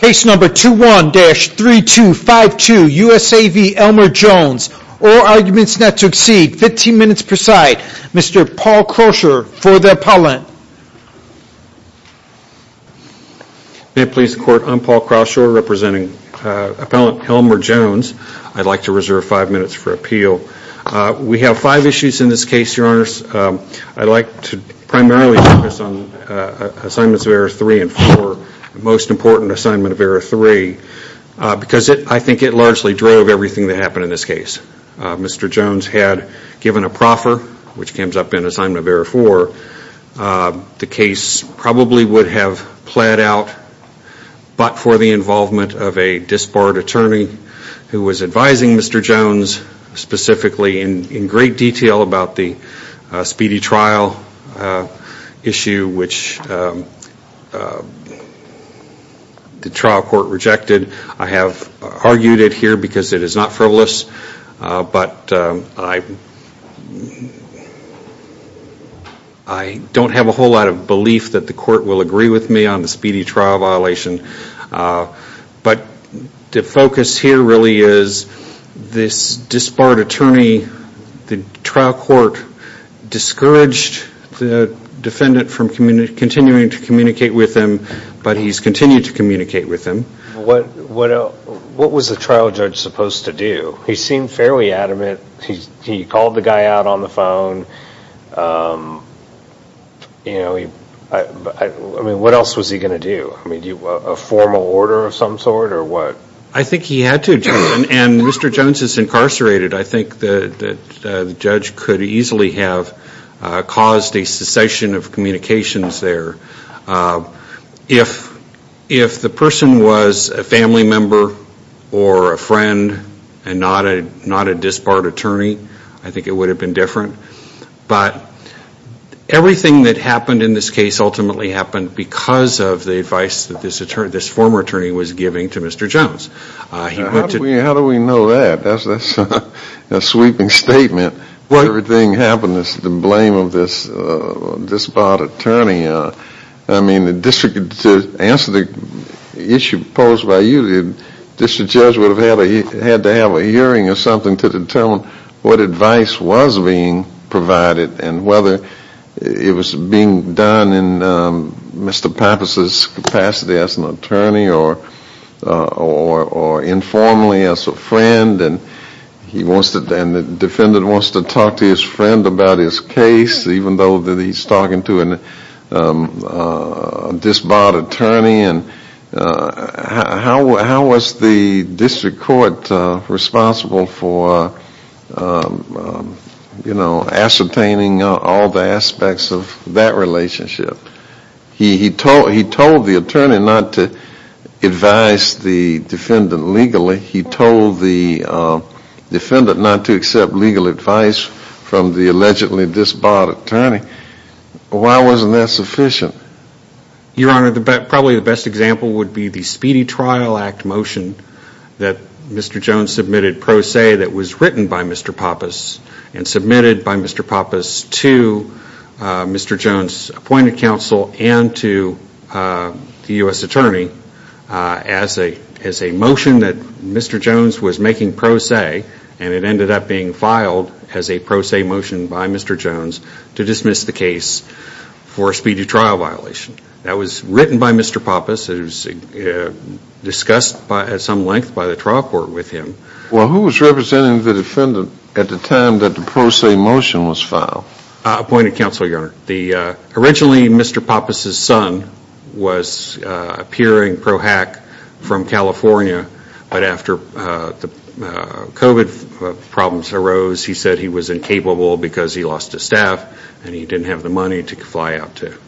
Case number 21-3252, U.S.A. v. Elmer Jones. All arguments not to exceed 15 minutes per side. Mr. Paul Croucher for the appellant. May it please the court, I'm Paul Croucher representing appellant Elmer Jones. I'd like to reserve five minutes for appeal. We have five issues in this case, your honors. I'd like to primarily focus on assignments of error three and four. The most important assignment of error three because I think it largely drove everything that happened in this case. Mr. Jones had given a proffer which comes up in assignment of error four. The case probably would have played out but for the involvement of a disbarred attorney who was advising Mr. Jones specifically in great detail about the speedy trial issue which the trial court rejected. I have argued it here because it is not frivolous but I don't have a whole lot of belief that the court will agree with me on the speedy trial violation. But the focus here really is this disbarred attorney, the trial court discouraged the defendant from continuing to communicate with him but he's continued to communicate with him. What was the trial judge supposed to do? He seemed fairly adamant. He called the guy out on the phone. What else was he going to do? A formal statement that the judge could easily have caused a cessation of communications there. If the person was a family member or a friend and not a disbarred attorney, I think it would have been different. But everything that happened in this case ultimately happened because of the advice that this former attorney was giving to Mr. Jones. How do we know that? That's a sweeping statement. If everything happened it's the blame of this disbarred attorney. To answer the issue posed by you, this judge would have had to have a hearing or something to determine what advice was being provided and whether it was being done in Mr. Jones' presence as an attorney or informally as a friend and the defendant wants to talk to his friend about his case even though he's talking to a disbarred attorney. How was the district court responsible for ascertaining all the aspects of that relationship? He told the attorney not to advise the defendant legally. He told the defendant not to accept legal advice from the allegedly disbarred attorney. Why wasn't that sufficient? Your Honor, probably the best example would be the Speedy Trial Act motion that Mr. Jones submitted pro se that was written by Mr. Pappas and submitted by Mr. Pappas to Mr. Jones' appointed counsel and to the U.S. attorney as a motion that Mr. Jones was making pro se and it ended up being filed as a pro se motion by Mr. Jones to dismiss the case for a speedy trial violation. That was written by Mr. Pappas. It was discussed at some length by the trial court with him. Well, who was representing the defendant at the time that the pro se motion was filed? Appointed counsel, Your Honor. Originally, Mr. Pappas' son was appearing pro hack from California, but after the COVID problems arose, he said he was incapable because he lost his staff and he didn't have the staff. From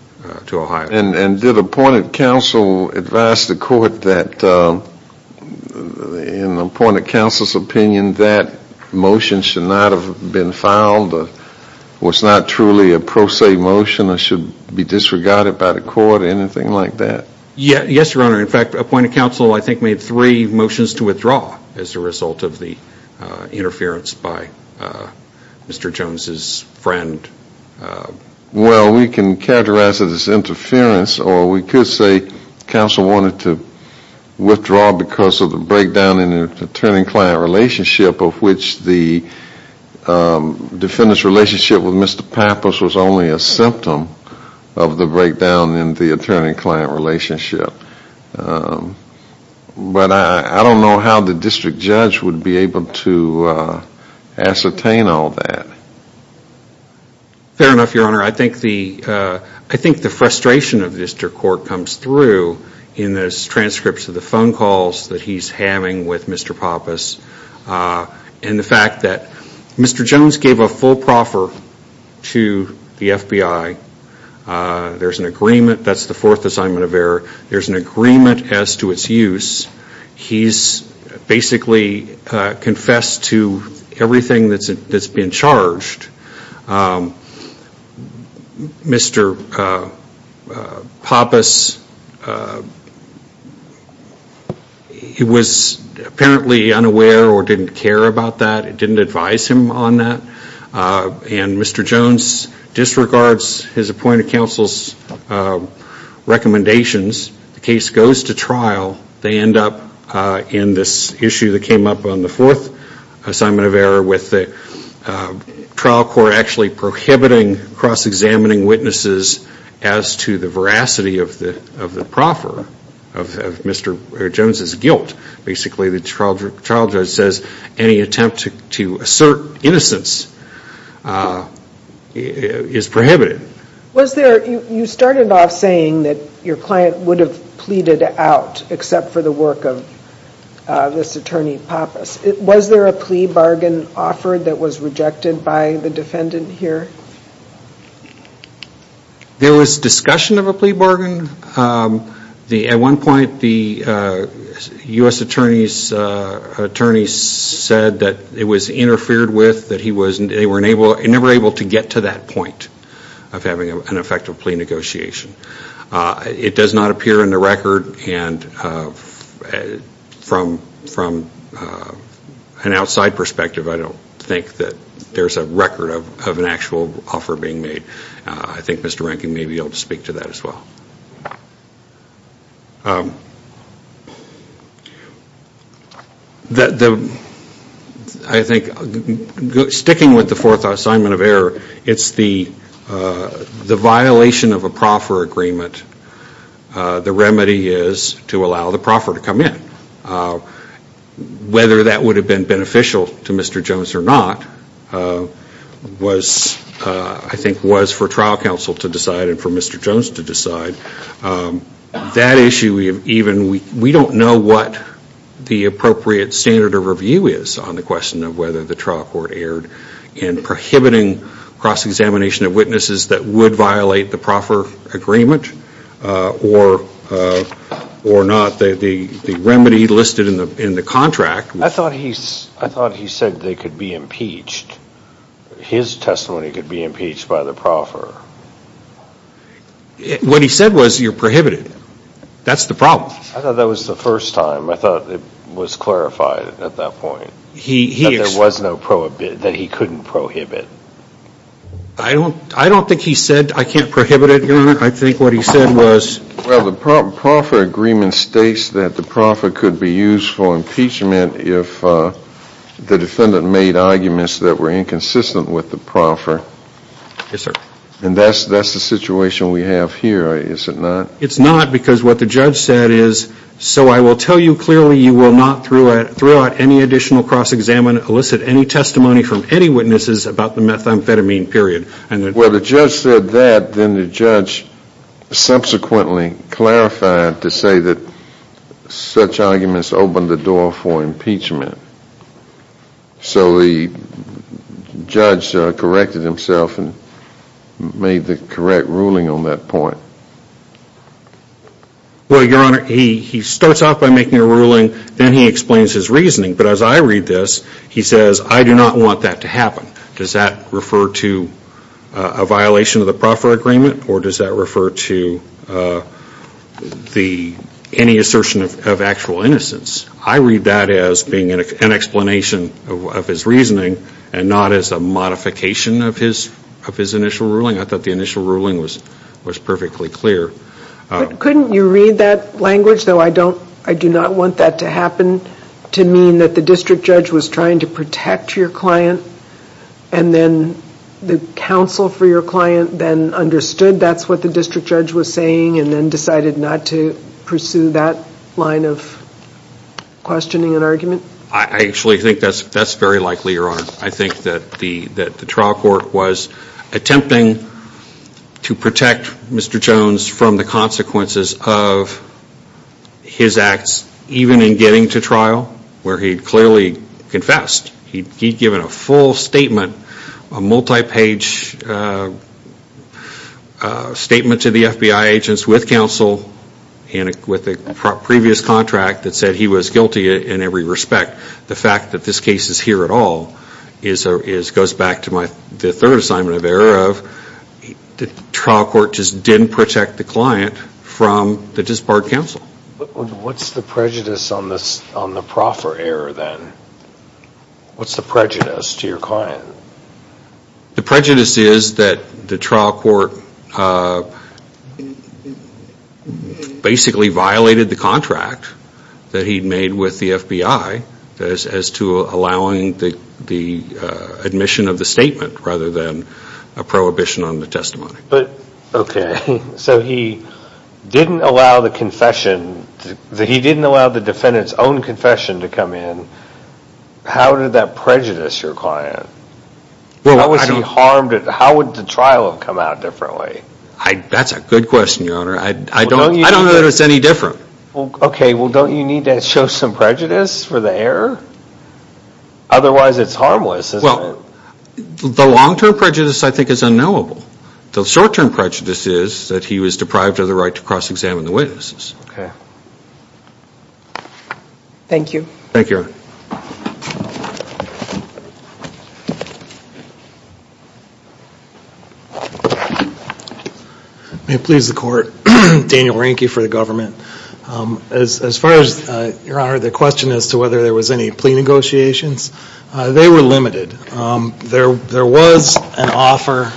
the point of counsel's opinion, that motion should not have been filed or was not truly a pro se motion or should be disregarded by the court or anything like that? Yes, Your Honor. In fact, appointed counsel I think made three motions to withdraw as a result of the interference by Mr. Jones' friend. Well, we can characterize it as interference or we could say counsel wanted to withdraw because of the breakdown in attorney-client relationship of which the defendant's relationship with Mr. Pappas was only a symptom of the breakdown in the attorney-client relationship. But I don't know how the district judge would be able to ascertain all that. Fair enough, Your Honor. I think the frustration of district court comes through in the transcripts of phone calls that he's having with Mr. Pappas and the fact that Mr. Jones gave a full proffer to the FBI. There's an agreement, that's the fourth assignment of error. There's an agreement as to its use. He's basically confessed to He was apparently unaware or didn't care about that. It didn't advise him on that. And Mr. Jones disregards his appointed counsel's recommendations. The case goes to trial. They end up in this issue that came up on the fourth assignment of error with the trial court actually prohibiting cross-examining witnesses as to the veracity of the proffer of Mr. Jones' guilt. Basically, the trial judge says any attempt to assert innocence is prohibited. Was there, you started off saying that your plea bargain offered that was rejected by the defendant here? There was discussion of a plea bargain. At one point the U.S. attorneys said that it was interfered with, that they were never able to get to that point of having an effective plea bargain. From my perspective, I don't think that there's a record of an actual offer being made. I think Mr. Rankin may be able to speak to that as well. I think sticking with the fourth assignment of error, it's the violation of a proffer agreement. The remedy is to allow the proffer to come in. Whether that would have been beneficial to Mr. Jones or not, I think was for trial counsel to decide and for Mr. Jones to decide. That issue, we don't know what the appropriate standard of review is on the question of whether the trial court erred in prohibiting cross-examination of I thought he said they could be impeached. His testimony could be impeached by the proffer. What he said was you're prohibited. That's the problem. I thought that was the first time. I thought it was clarified at that point. That there was no prohibit, that he couldn't prohibit. I don't think he said I can't prohibit it. I think what he said was Well, the proffer agreement states that the proffer could be used for impeachment if the defendant made arguments that were inconsistent with the proffer. Yes, sir. And that's the situation we have here, is it not? It's not because what the judge said is, so I will tell you clearly you will not throughout any additional cross-examination elicit any testimony from any witnesses about the methamphetamine period. Well, the judge said that, then the judge subsequently clarified to say that such arguments opened the door for impeachment. So the judge corrected himself and made the correct ruling on that point. Well, your honor, he starts off by making a ruling, then he explains his reasoning, but as I read this, he says I do not want that to happen. Does that refer to a violation of the proffer agreement or does that refer to any assertion of actual innocence? I read that as being an explanation of his reasoning and not as a modification of his initial ruling. I thought the initial ruling was perfectly clear. Couldn't you read that language, though I do not want that to happen, to mean that the district judge was trying to protect your client and then the counsel for your client then understood that's what the district judge was saying and then decided not to pursue that line of questioning and argument? I actually think that's very likely, your honor. I think that the trial court was attempting to protect Mr. Jones from the consequences of his acts, even in getting to trial, where he clearly confessed. He'd given a full statement, a multi-page statement to the FBI agents with counsel and with a previous contract that said he was guilty in every respect. The fact that this case is here at all goes back to the third assignment of error of the trial court just didn't protect the client from the disbarred counsel. What's the prejudice on the proffer error then? What's the prejudice to your client? The prejudice is that the trial court basically violated the contract that he'd made with the FBI as to allowing the admission of the statement rather than a prohibition on the testimony. Okay, so he didn't allow the defendant's own confession to come in. How did that prejudice your client? How would the trial have come out differently? That's a good question, your honor. I don't know that it's any different. Okay, well don't you need to show some prejudice for the error? Otherwise it's harmless, isn't it? The long-term prejudice I think is unknowable. The short-term prejudice is that he was deprived of the right to cross-examine the witnesses. Thank you. Thank you, your honor. May it please the court. Daniel Reinke for the government. As far as, your honor, the question as to whether there was any plea negotiations, they were limited. There was an offer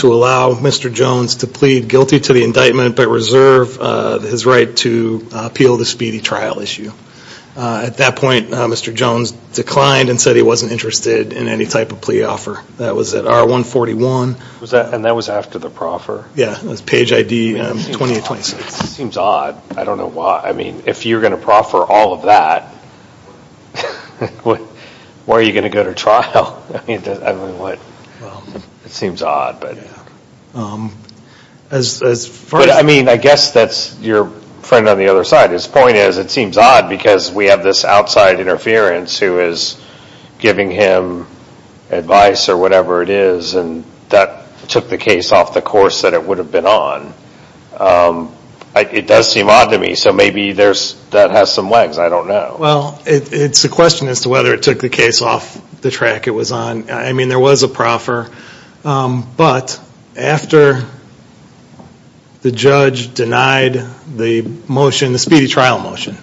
to allow Mr. Jones to plead guilty to the indictment but reserve his right to appeal the speedy trial issue. At that point, Mr. Jones declined and said he wasn't interested in any type of plea offer. That was at R141. And that was after the proffer? Yeah, it was page ID 2026. It seems odd. I don't know why. If you're going to proffer all of that, why are you going to go to trial? It seems odd. I guess that's your friend on the other side. His point is it seems odd because we have this outside interference who is giving him advice or whatever it is and that took the case off the course that it would have been on. It does seem odd to me. So maybe that has some legs. I don't know. Well, it's a question as to whether it took the case off the track it was on. I mean, there was a proffer. But after the judge denied the motion, the speedy trial motion.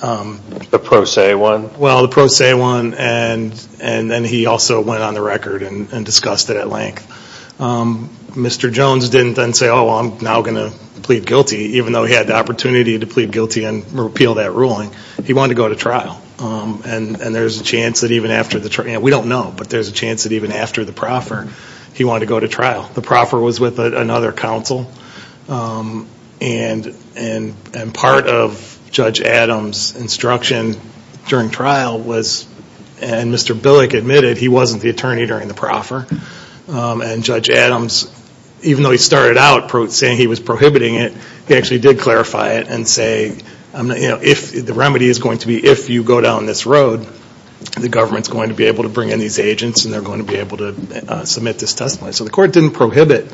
The pro se one? Well, the pro se one and then he also went on the record and discussed it at length. Mr. Jones didn't then say, oh, I'm now going to plead guilty even though he had the opportunity to plead guilty and repeal that ruling. He wanted to go to trial. And there's a chance that even after the trial. We don't know, but there's a chance that even after the proffer, he wanted to go to trial. The proffer was with another counsel. And part of Judge Adams' instruction during trial was and Mr. Billick admitted he wasn't the attorney during the proffer and Judge Adams, even though he started out saying he was prohibiting it, he actually did clarify it and say, the remedy is going to be if you go down this road, the government's going to be able to bring in these agents and they're going to be able to submit this testimony. So the court didn't prohibit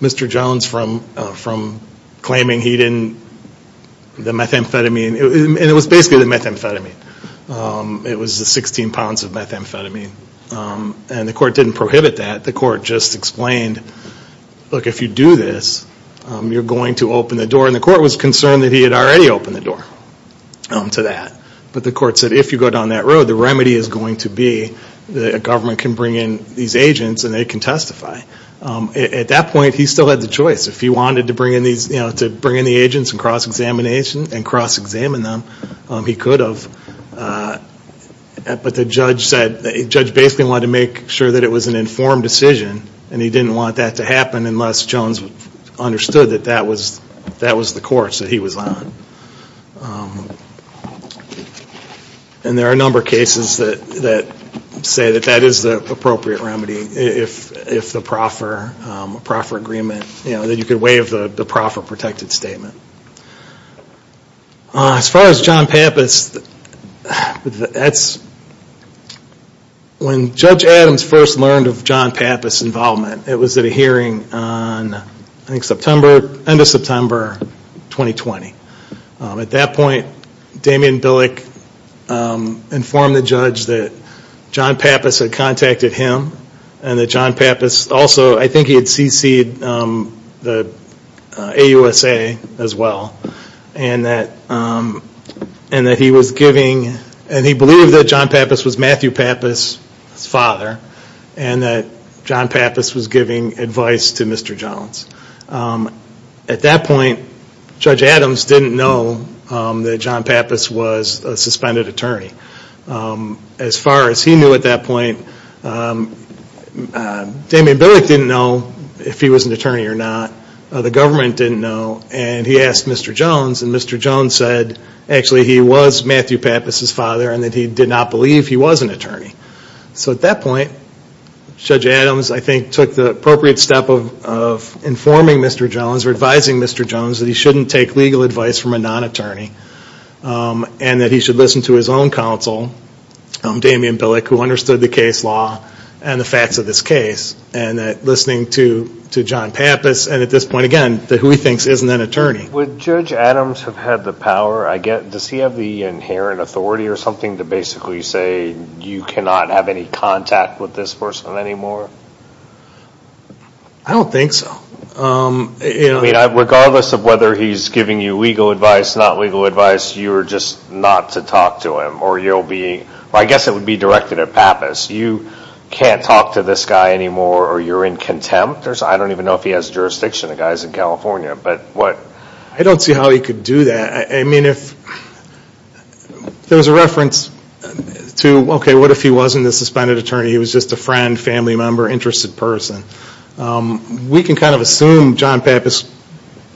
Mr. Jones from claiming he didn't the methamphetamine, and it was basically the methamphetamine. It was the 16 pounds of methamphetamine. And the court didn't prohibit that. The court just explained, look, if you do this, you're going to open the door. And the court was concerned that he had already opened the door to that. But the court said, if you go down that road, the remedy is going to be the government can bring in these agents and they can testify. At that point, he still had the choice. If he wanted to bring in the agents and cross-examine them, he could have. But the judge said, the judge basically wanted to make sure that it was an informed decision, and he didn't want that to happen unless Jones understood that that was the course that he was on. And there are a number of cases that say that that is the appropriate remedy, if the proffer agreement, that you could waive the proffer protected statement. As far as John Pappas, when Judge Adams first learned of John Pappas' involvement, it was at a hearing on, I think, September, end of September, 2020. At that point, Damian Billick informed the judge that John Pappas had contacted him and that John Pappas also, I think he had CC'd the AUSA as well, and that he was giving, and he believed that John Pappas was Matthew Pappas' father, and that John Pappas was giving advice to Mr. Jones. At that point, Judge Adams didn't know that John Pappas was a suspended attorney. As far as he knew at that point, Damian Billick didn't know if he was an attorney or not, the government didn't know, and he asked Mr. Jones, and Mr. Jones said actually he was Matthew Pappas' father, and that he did not believe he was an attorney. At that point, Judge Adams, I think, took the appropriate step of informing Mr. Jones or advising Mr. Jones that he shouldn't take legal advice from a non-attorney, and that he should listen to his own counsel, Damian Billick, who understood the case law and the facts of this case, and that listening to John Pappas, and at this point again, who he thinks isn't an attorney. Would Judge Adams have had the power, does he have the inherent authority or something to basically say you cannot have any contact with this person anymore? I don't think so. Regardless of whether he's giving you legal advice, not legal advice, you're just not to talk to him, or I guess it would be directed at Pappas. You can't talk to this guy anymore, or you're in contempt? I don't even know if he has jurisdiction. The guy's in California. I don't see how he could do that. There was a reference to what if he wasn't a suspended attorney, he was just a friend, family member, interested person. We can kind of assume John Pappas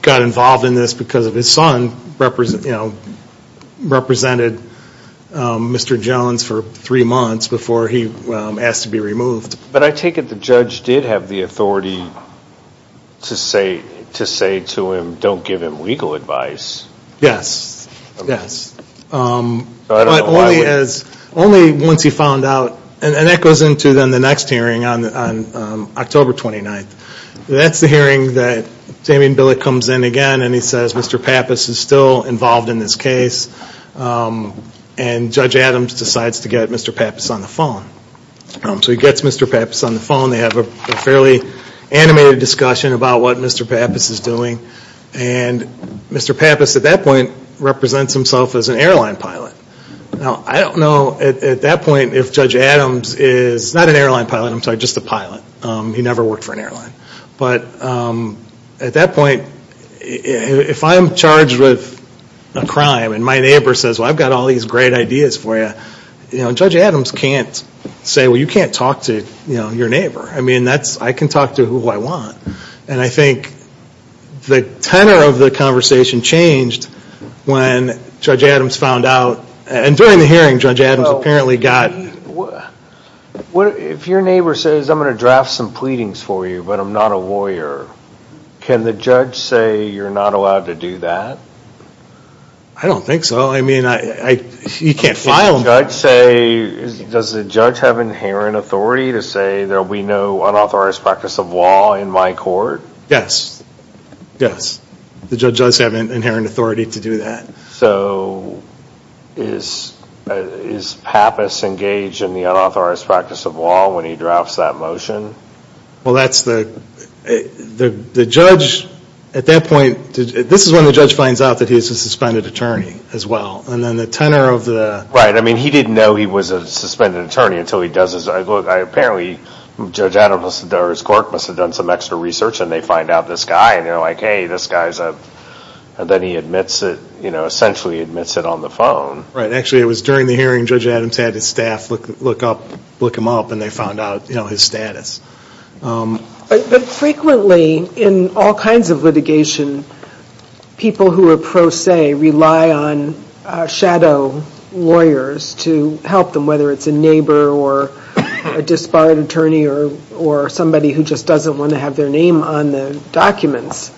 got involved in this because of his son who represented Mr. Jones for three months before he asked to be removed. But I take it the judge did have the authority to say to him, don't give him legal advice. Yes. Only once he found out, and that goes into the next hearing on October 29th. That's the hearing that Damian Billick comes in again and he says Mr. Pappas is still involved in this case and Judge Adams decides to get Mr. Pappas on the phone. So he gets Mr. Pappas on the phone. They have a fairly animated discussion about what Mr. Pappas is doing and Mr. Pappas at that point represents himself as an airline pilot. Now I don't know at that point if Judge Adams is not an airline pilot, I'm sorry, just a pilot. He never worked for an airline. At that point if I'm charged with a crime and my neighbor says I've got all these great ideas for you Judge Adams can't say you can't talk to your neighbor. I can talk to who I want. I think the tenor of the conversation changed when Judge Adams found out and during the hearing Judge Adams apparently got If your neighbor says I'm going to draft some pleadings for you but I'm not a lawyer can the judge say you're not allowed to do that? I don't think so. He can't file them. Does the judge have inherent authority to say there will be no unauthorized practice of law in my court? Yes. The judge does have inherent authority to do that. So is Pappas engaged in the unauthorized practice of law when he drafts that motion? At that point this is when the judge finds out he's a suspended attorney as well. He didn't know he was a suspended attorney until he does his apparently Judge Adams or his court must have done some extra research and they find out this guy then he admits it essentially admits it on the phone. During the hearing Judge Adams had his staff look him up and they found out his status. Frequently in all kinds of litigation people who are pro se rely on shadow lawyers to help them whether it's a neighbor or a disbarred attorney or somebody who just doesn't want to have their name on the documents.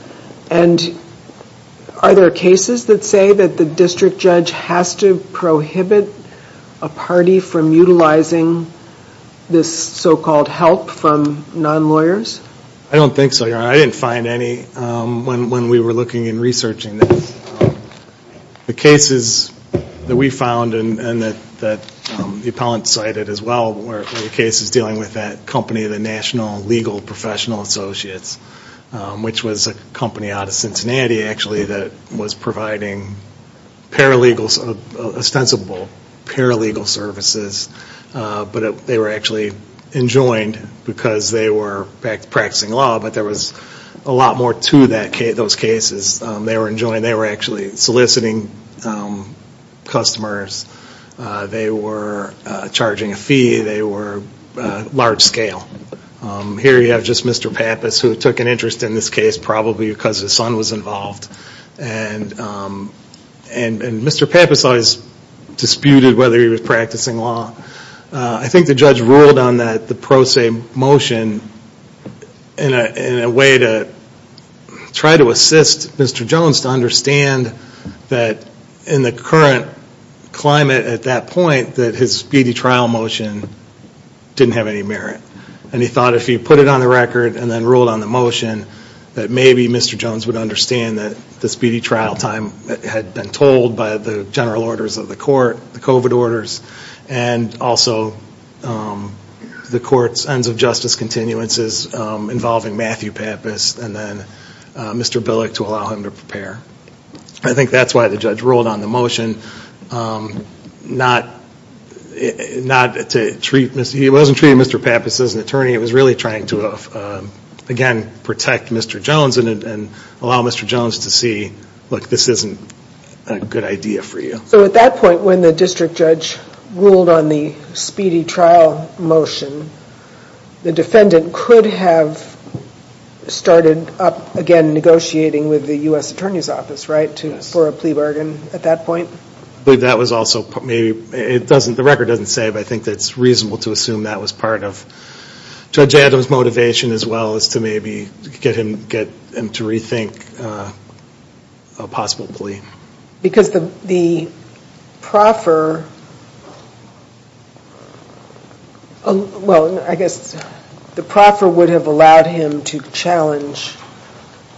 Are there cases that say the district judge has to prohibit a party from utilizing this so-called help from non-lawyers? I don't think so. I didn't find any when we were looking and researching this. The cases that we found and that the appellant cited as well were cases dealing with that company the National Legal Professional Associates which was a company out of Cincinnati that was providing ostensible paralegal services but they were actually enjoined because they were practicing law but there was a lot more to those cases they were actually soliciting customers they were charging a fee they were large scale. Here you have just Mr. Pappas who took an interest in this case probably because his son was involved and Mr. Pappas always disputed whether he was practicing law. I think the judge ruled on the pro se motion in a way to try to assist Mr. Jones to understand that in the current climate at that point that his speedy trial motion didn't have any merit and he thought if he put it on the record and then ruled on the motion that maybe Mr. Jones would understand that the speedy trial time had been told by the general orders of the court the COVID orders and also the court's ends of justice continuances involving Matthew Pappas and then Mr. Billick to allow him to prepare. I think that's why the judge ruled on the motion not to treat he wasn't treating Mr. Pappas as an attorney he was really trying to protect Mr. Jones and allow Mr. Jones to see this isn't a good idea for you. So at that point when the district judge ruled on the speedy trial motion the defendant could have started up again negotiating with the US Attorney's Office for a plea bargain at that point? The record doesn't say but I think it's reasonable to assume that was part of Judge Adams' motivation as well as to maybe get him to rethink a possible plea. Because the proffer well I guess the proffer would have allowed him to challenge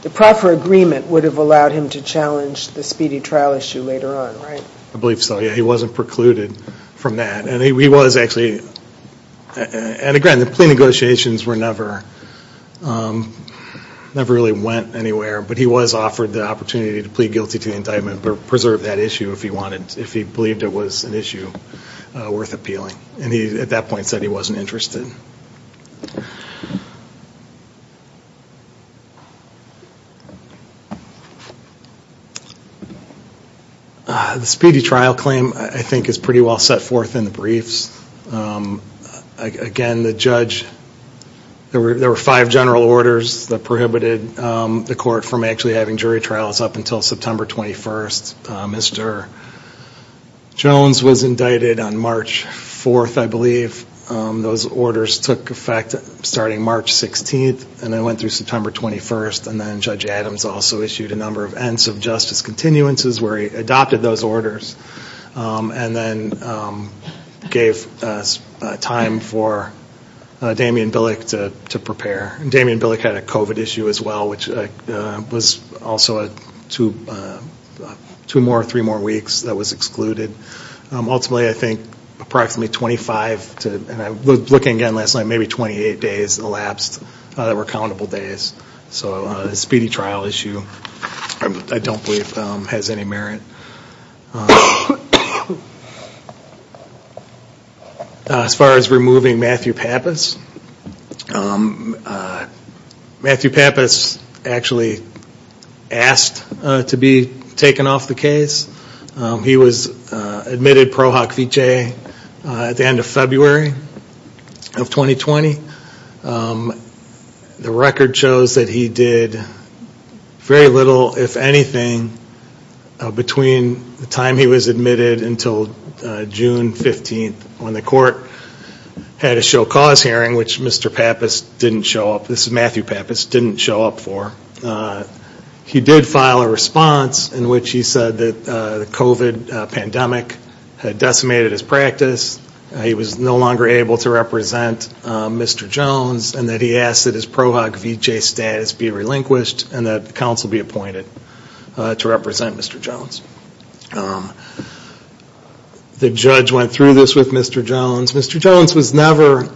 the proffer agreement would have allowed him to challenge the speedy trial issue later on, right? I believe so, yeah he wasn't precluded from that and he was actually and again the plea negotiations never really went anywhere but he was offered the opportunity to plead guilty to the indictment but preserve that issue if he wanted if he believed it was an issue worth appealing and at that point he said he wasn't interested. The speedy trial claim I think is pretty well set forth in the briefs again the judge there were five general orders that prohibited the court from actually having jury trials up until September 21st Mr. Jones was indicted on March 4th I believe those orders took effect starting March 16th and then went through September 21st and then Judge Adams also issued a number of ends of justice continuances where he adopted those orders and then gave time for Damian Billick to prepare Damian Billick had a COVID issue as well which was also two more, three more weeks that was excluded ultimately I think approximately 25 and looking again last night maybe 28 days elapsed that were countable days so a speedy trial issue I don't believe has any merit As far as removing Matthew Pappas Matthew Pappas actually asked to be admitted Pro Hoc Vitae at the end of February of 2020 the record shows that he did very little if anything between the time he was admitted until June 15th when the court had a show cause hearing which Mr. Pappas didn't show up, this is Matthew Pappas, didn't show up for he did file a response in which he said that the COVID pandemic had decimated his practice he was no longer able to represent Mr. Jones and that he asked that his Pro Hoc Vitae status be relinquished and that counsel be appointed to represent Mr. Jones the judge went through this with Mr. Jones Mr. Jones was never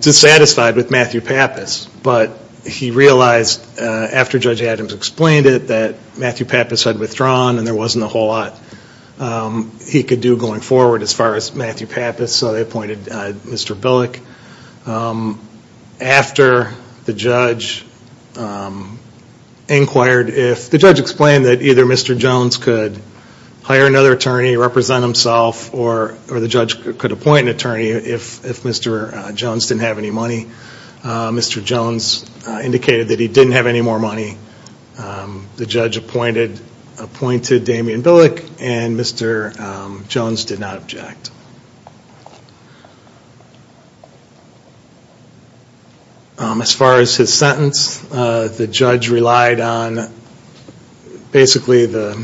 dissatisfied with Matthew Pappas but he realized after Judge Adams explained it that Matthew Pappas had withdrawn and there wasn't a whole lot he could do going forward as far as Matthew Pappas so they appointed Mr. Billick after the judge inquired if, the judge explained that either Mr. Jones could hire another attorney represent himself or the judge could appoint an attorney if Mr. Jones didn't have any money Mr. Jones indicated that he didn't have any more money the judge appointed appointed Damien Billick and Mr. Jones did not object as far as his sentence the judge relied on basically the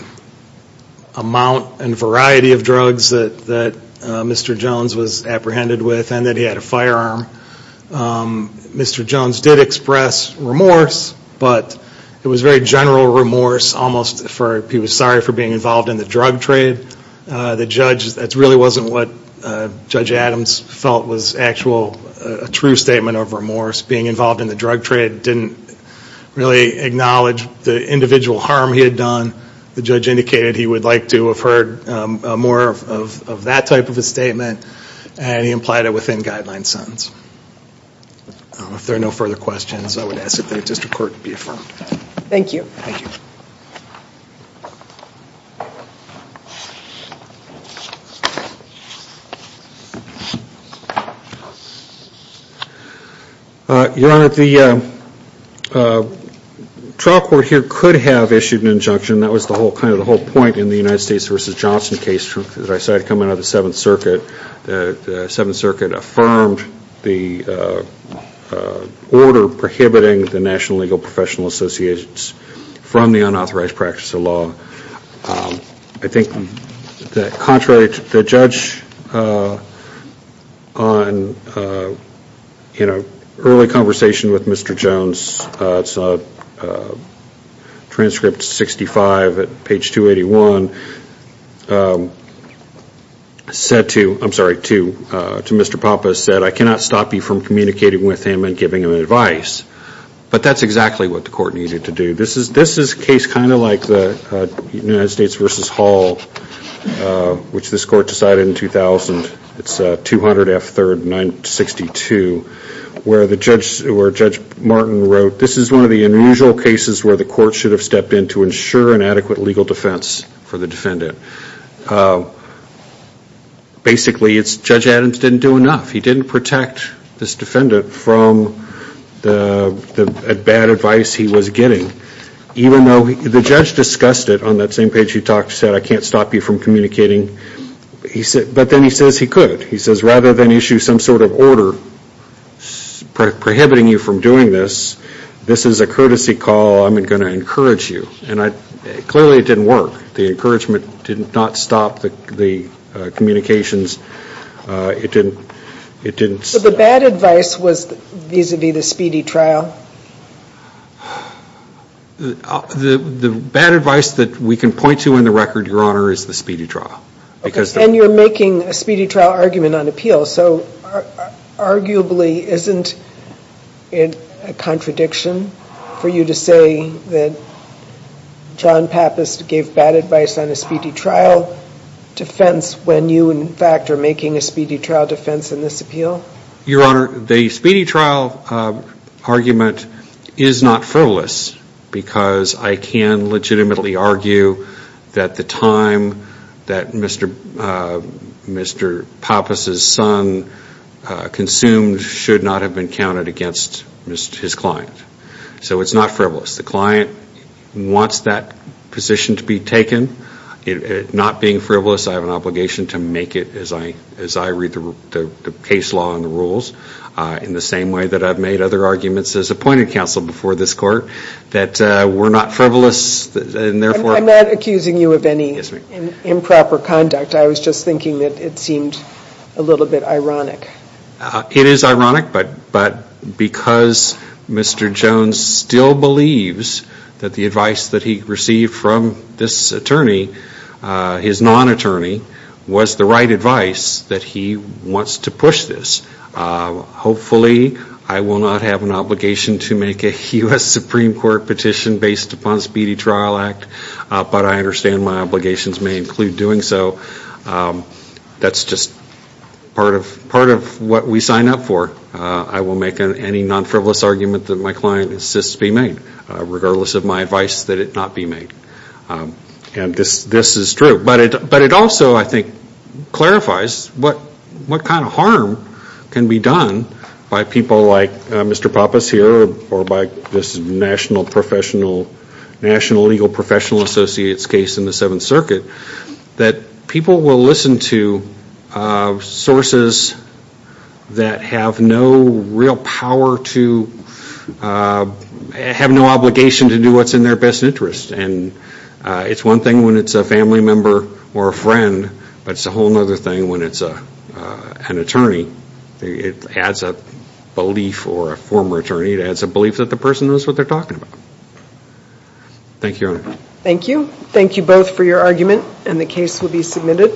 amount and variety of drugs that Mr. Jones was apprehended with he had a firearm Mr. Jones did express remorse but it was very general remorse he was sorry for being involved in the drug trade that really wasn't what Judge Adams felt was a true statement of remorse being involved in the drug trade didn't acknowledge the individual harm he had done the judge indicated he would like to have heard more of that type of a statement and he implied it within guideline sentence if there are no further questions I would ask the district court to be affirmed your honor the trial court here could have issued an injunction that was the whole point in the United States v. Johnson case coming out of the 7th circuit the 7th circuit affirmed the order prohibiting the National Legal Professional Association from the unauthorized practice of law I think contrary to the judge in an early conversation with Mr. Jones transcript 65 page 281 said to Mr. Pappas I cannot stop you from communicating with him and giving him advice but that's exactly what the court needed to do this is a case kind of like the United States v. Hall which this court decided in 2000 it's 200 F 3rd 962 where Judge Martin wrote this is one of the unusual cases where the court should have stepped in to ensure an adequate legal defense for the defendant basically Judge Adams didn't do enough he didn't protect this defendant from the bad advice he was getting even though the judge discussed it on that same page I can't stop you from communicating but then he says he could rather than issue some sort of order prohibiting you from doing this this is a courtesy call I'm going to encourage you clearly it didn't work the encouragement didn't stop the communications the bad advice was vis-a-vis the speedy trial the bad advice that we can point to in the record your honor is the speedy trial and you're making a speedy trial argument on appeal so arguably isn't it a contradiction for you to say that John Pappas gave bad advice on a speedy trial defense when you in fact are making a speedy trial defense in this appeal your honor the speedy trial argument is not frivolous because I can legitimately argue that the time that Mr. Pappas' son consumed should not have been counted against his client the client wants that position to be taken not being frivolous I have an obligation to make it as I read the case law and the rules in the same way that I've made other arguments as appointed counsel before this court I'm not accusing you of any improper conduct I was just thinking that it seemed a little bit ironic it is ironic but because Mr. Jones still believes that the advice that he received from this attorney his non-attorney was the right advice that he wants to push this hopefully I will not have an obligation to make a U.S. Supreme Court petition based upon speedy trial act but I understand my obligations may include doing so that's just part of what we sign up for I will make any non-frivolous argument that my client insists be made regardless of my advice that it not be made this is true but it also clarifies what kind of harm can be done by people like Mr. Pappas or by this National Legal Professional Associates case in the 7th Circuit that people will listen to sources that have no real power to have no obligation to do what's in their best interest and it's one thing when it's a family member or a friend but it's a whole other thing when it's an attorney it adds a belief or a former attorney it adds a belief that the person knows what they're talking about Thank you Your Honor Thank you both for your argument and the case will be submitted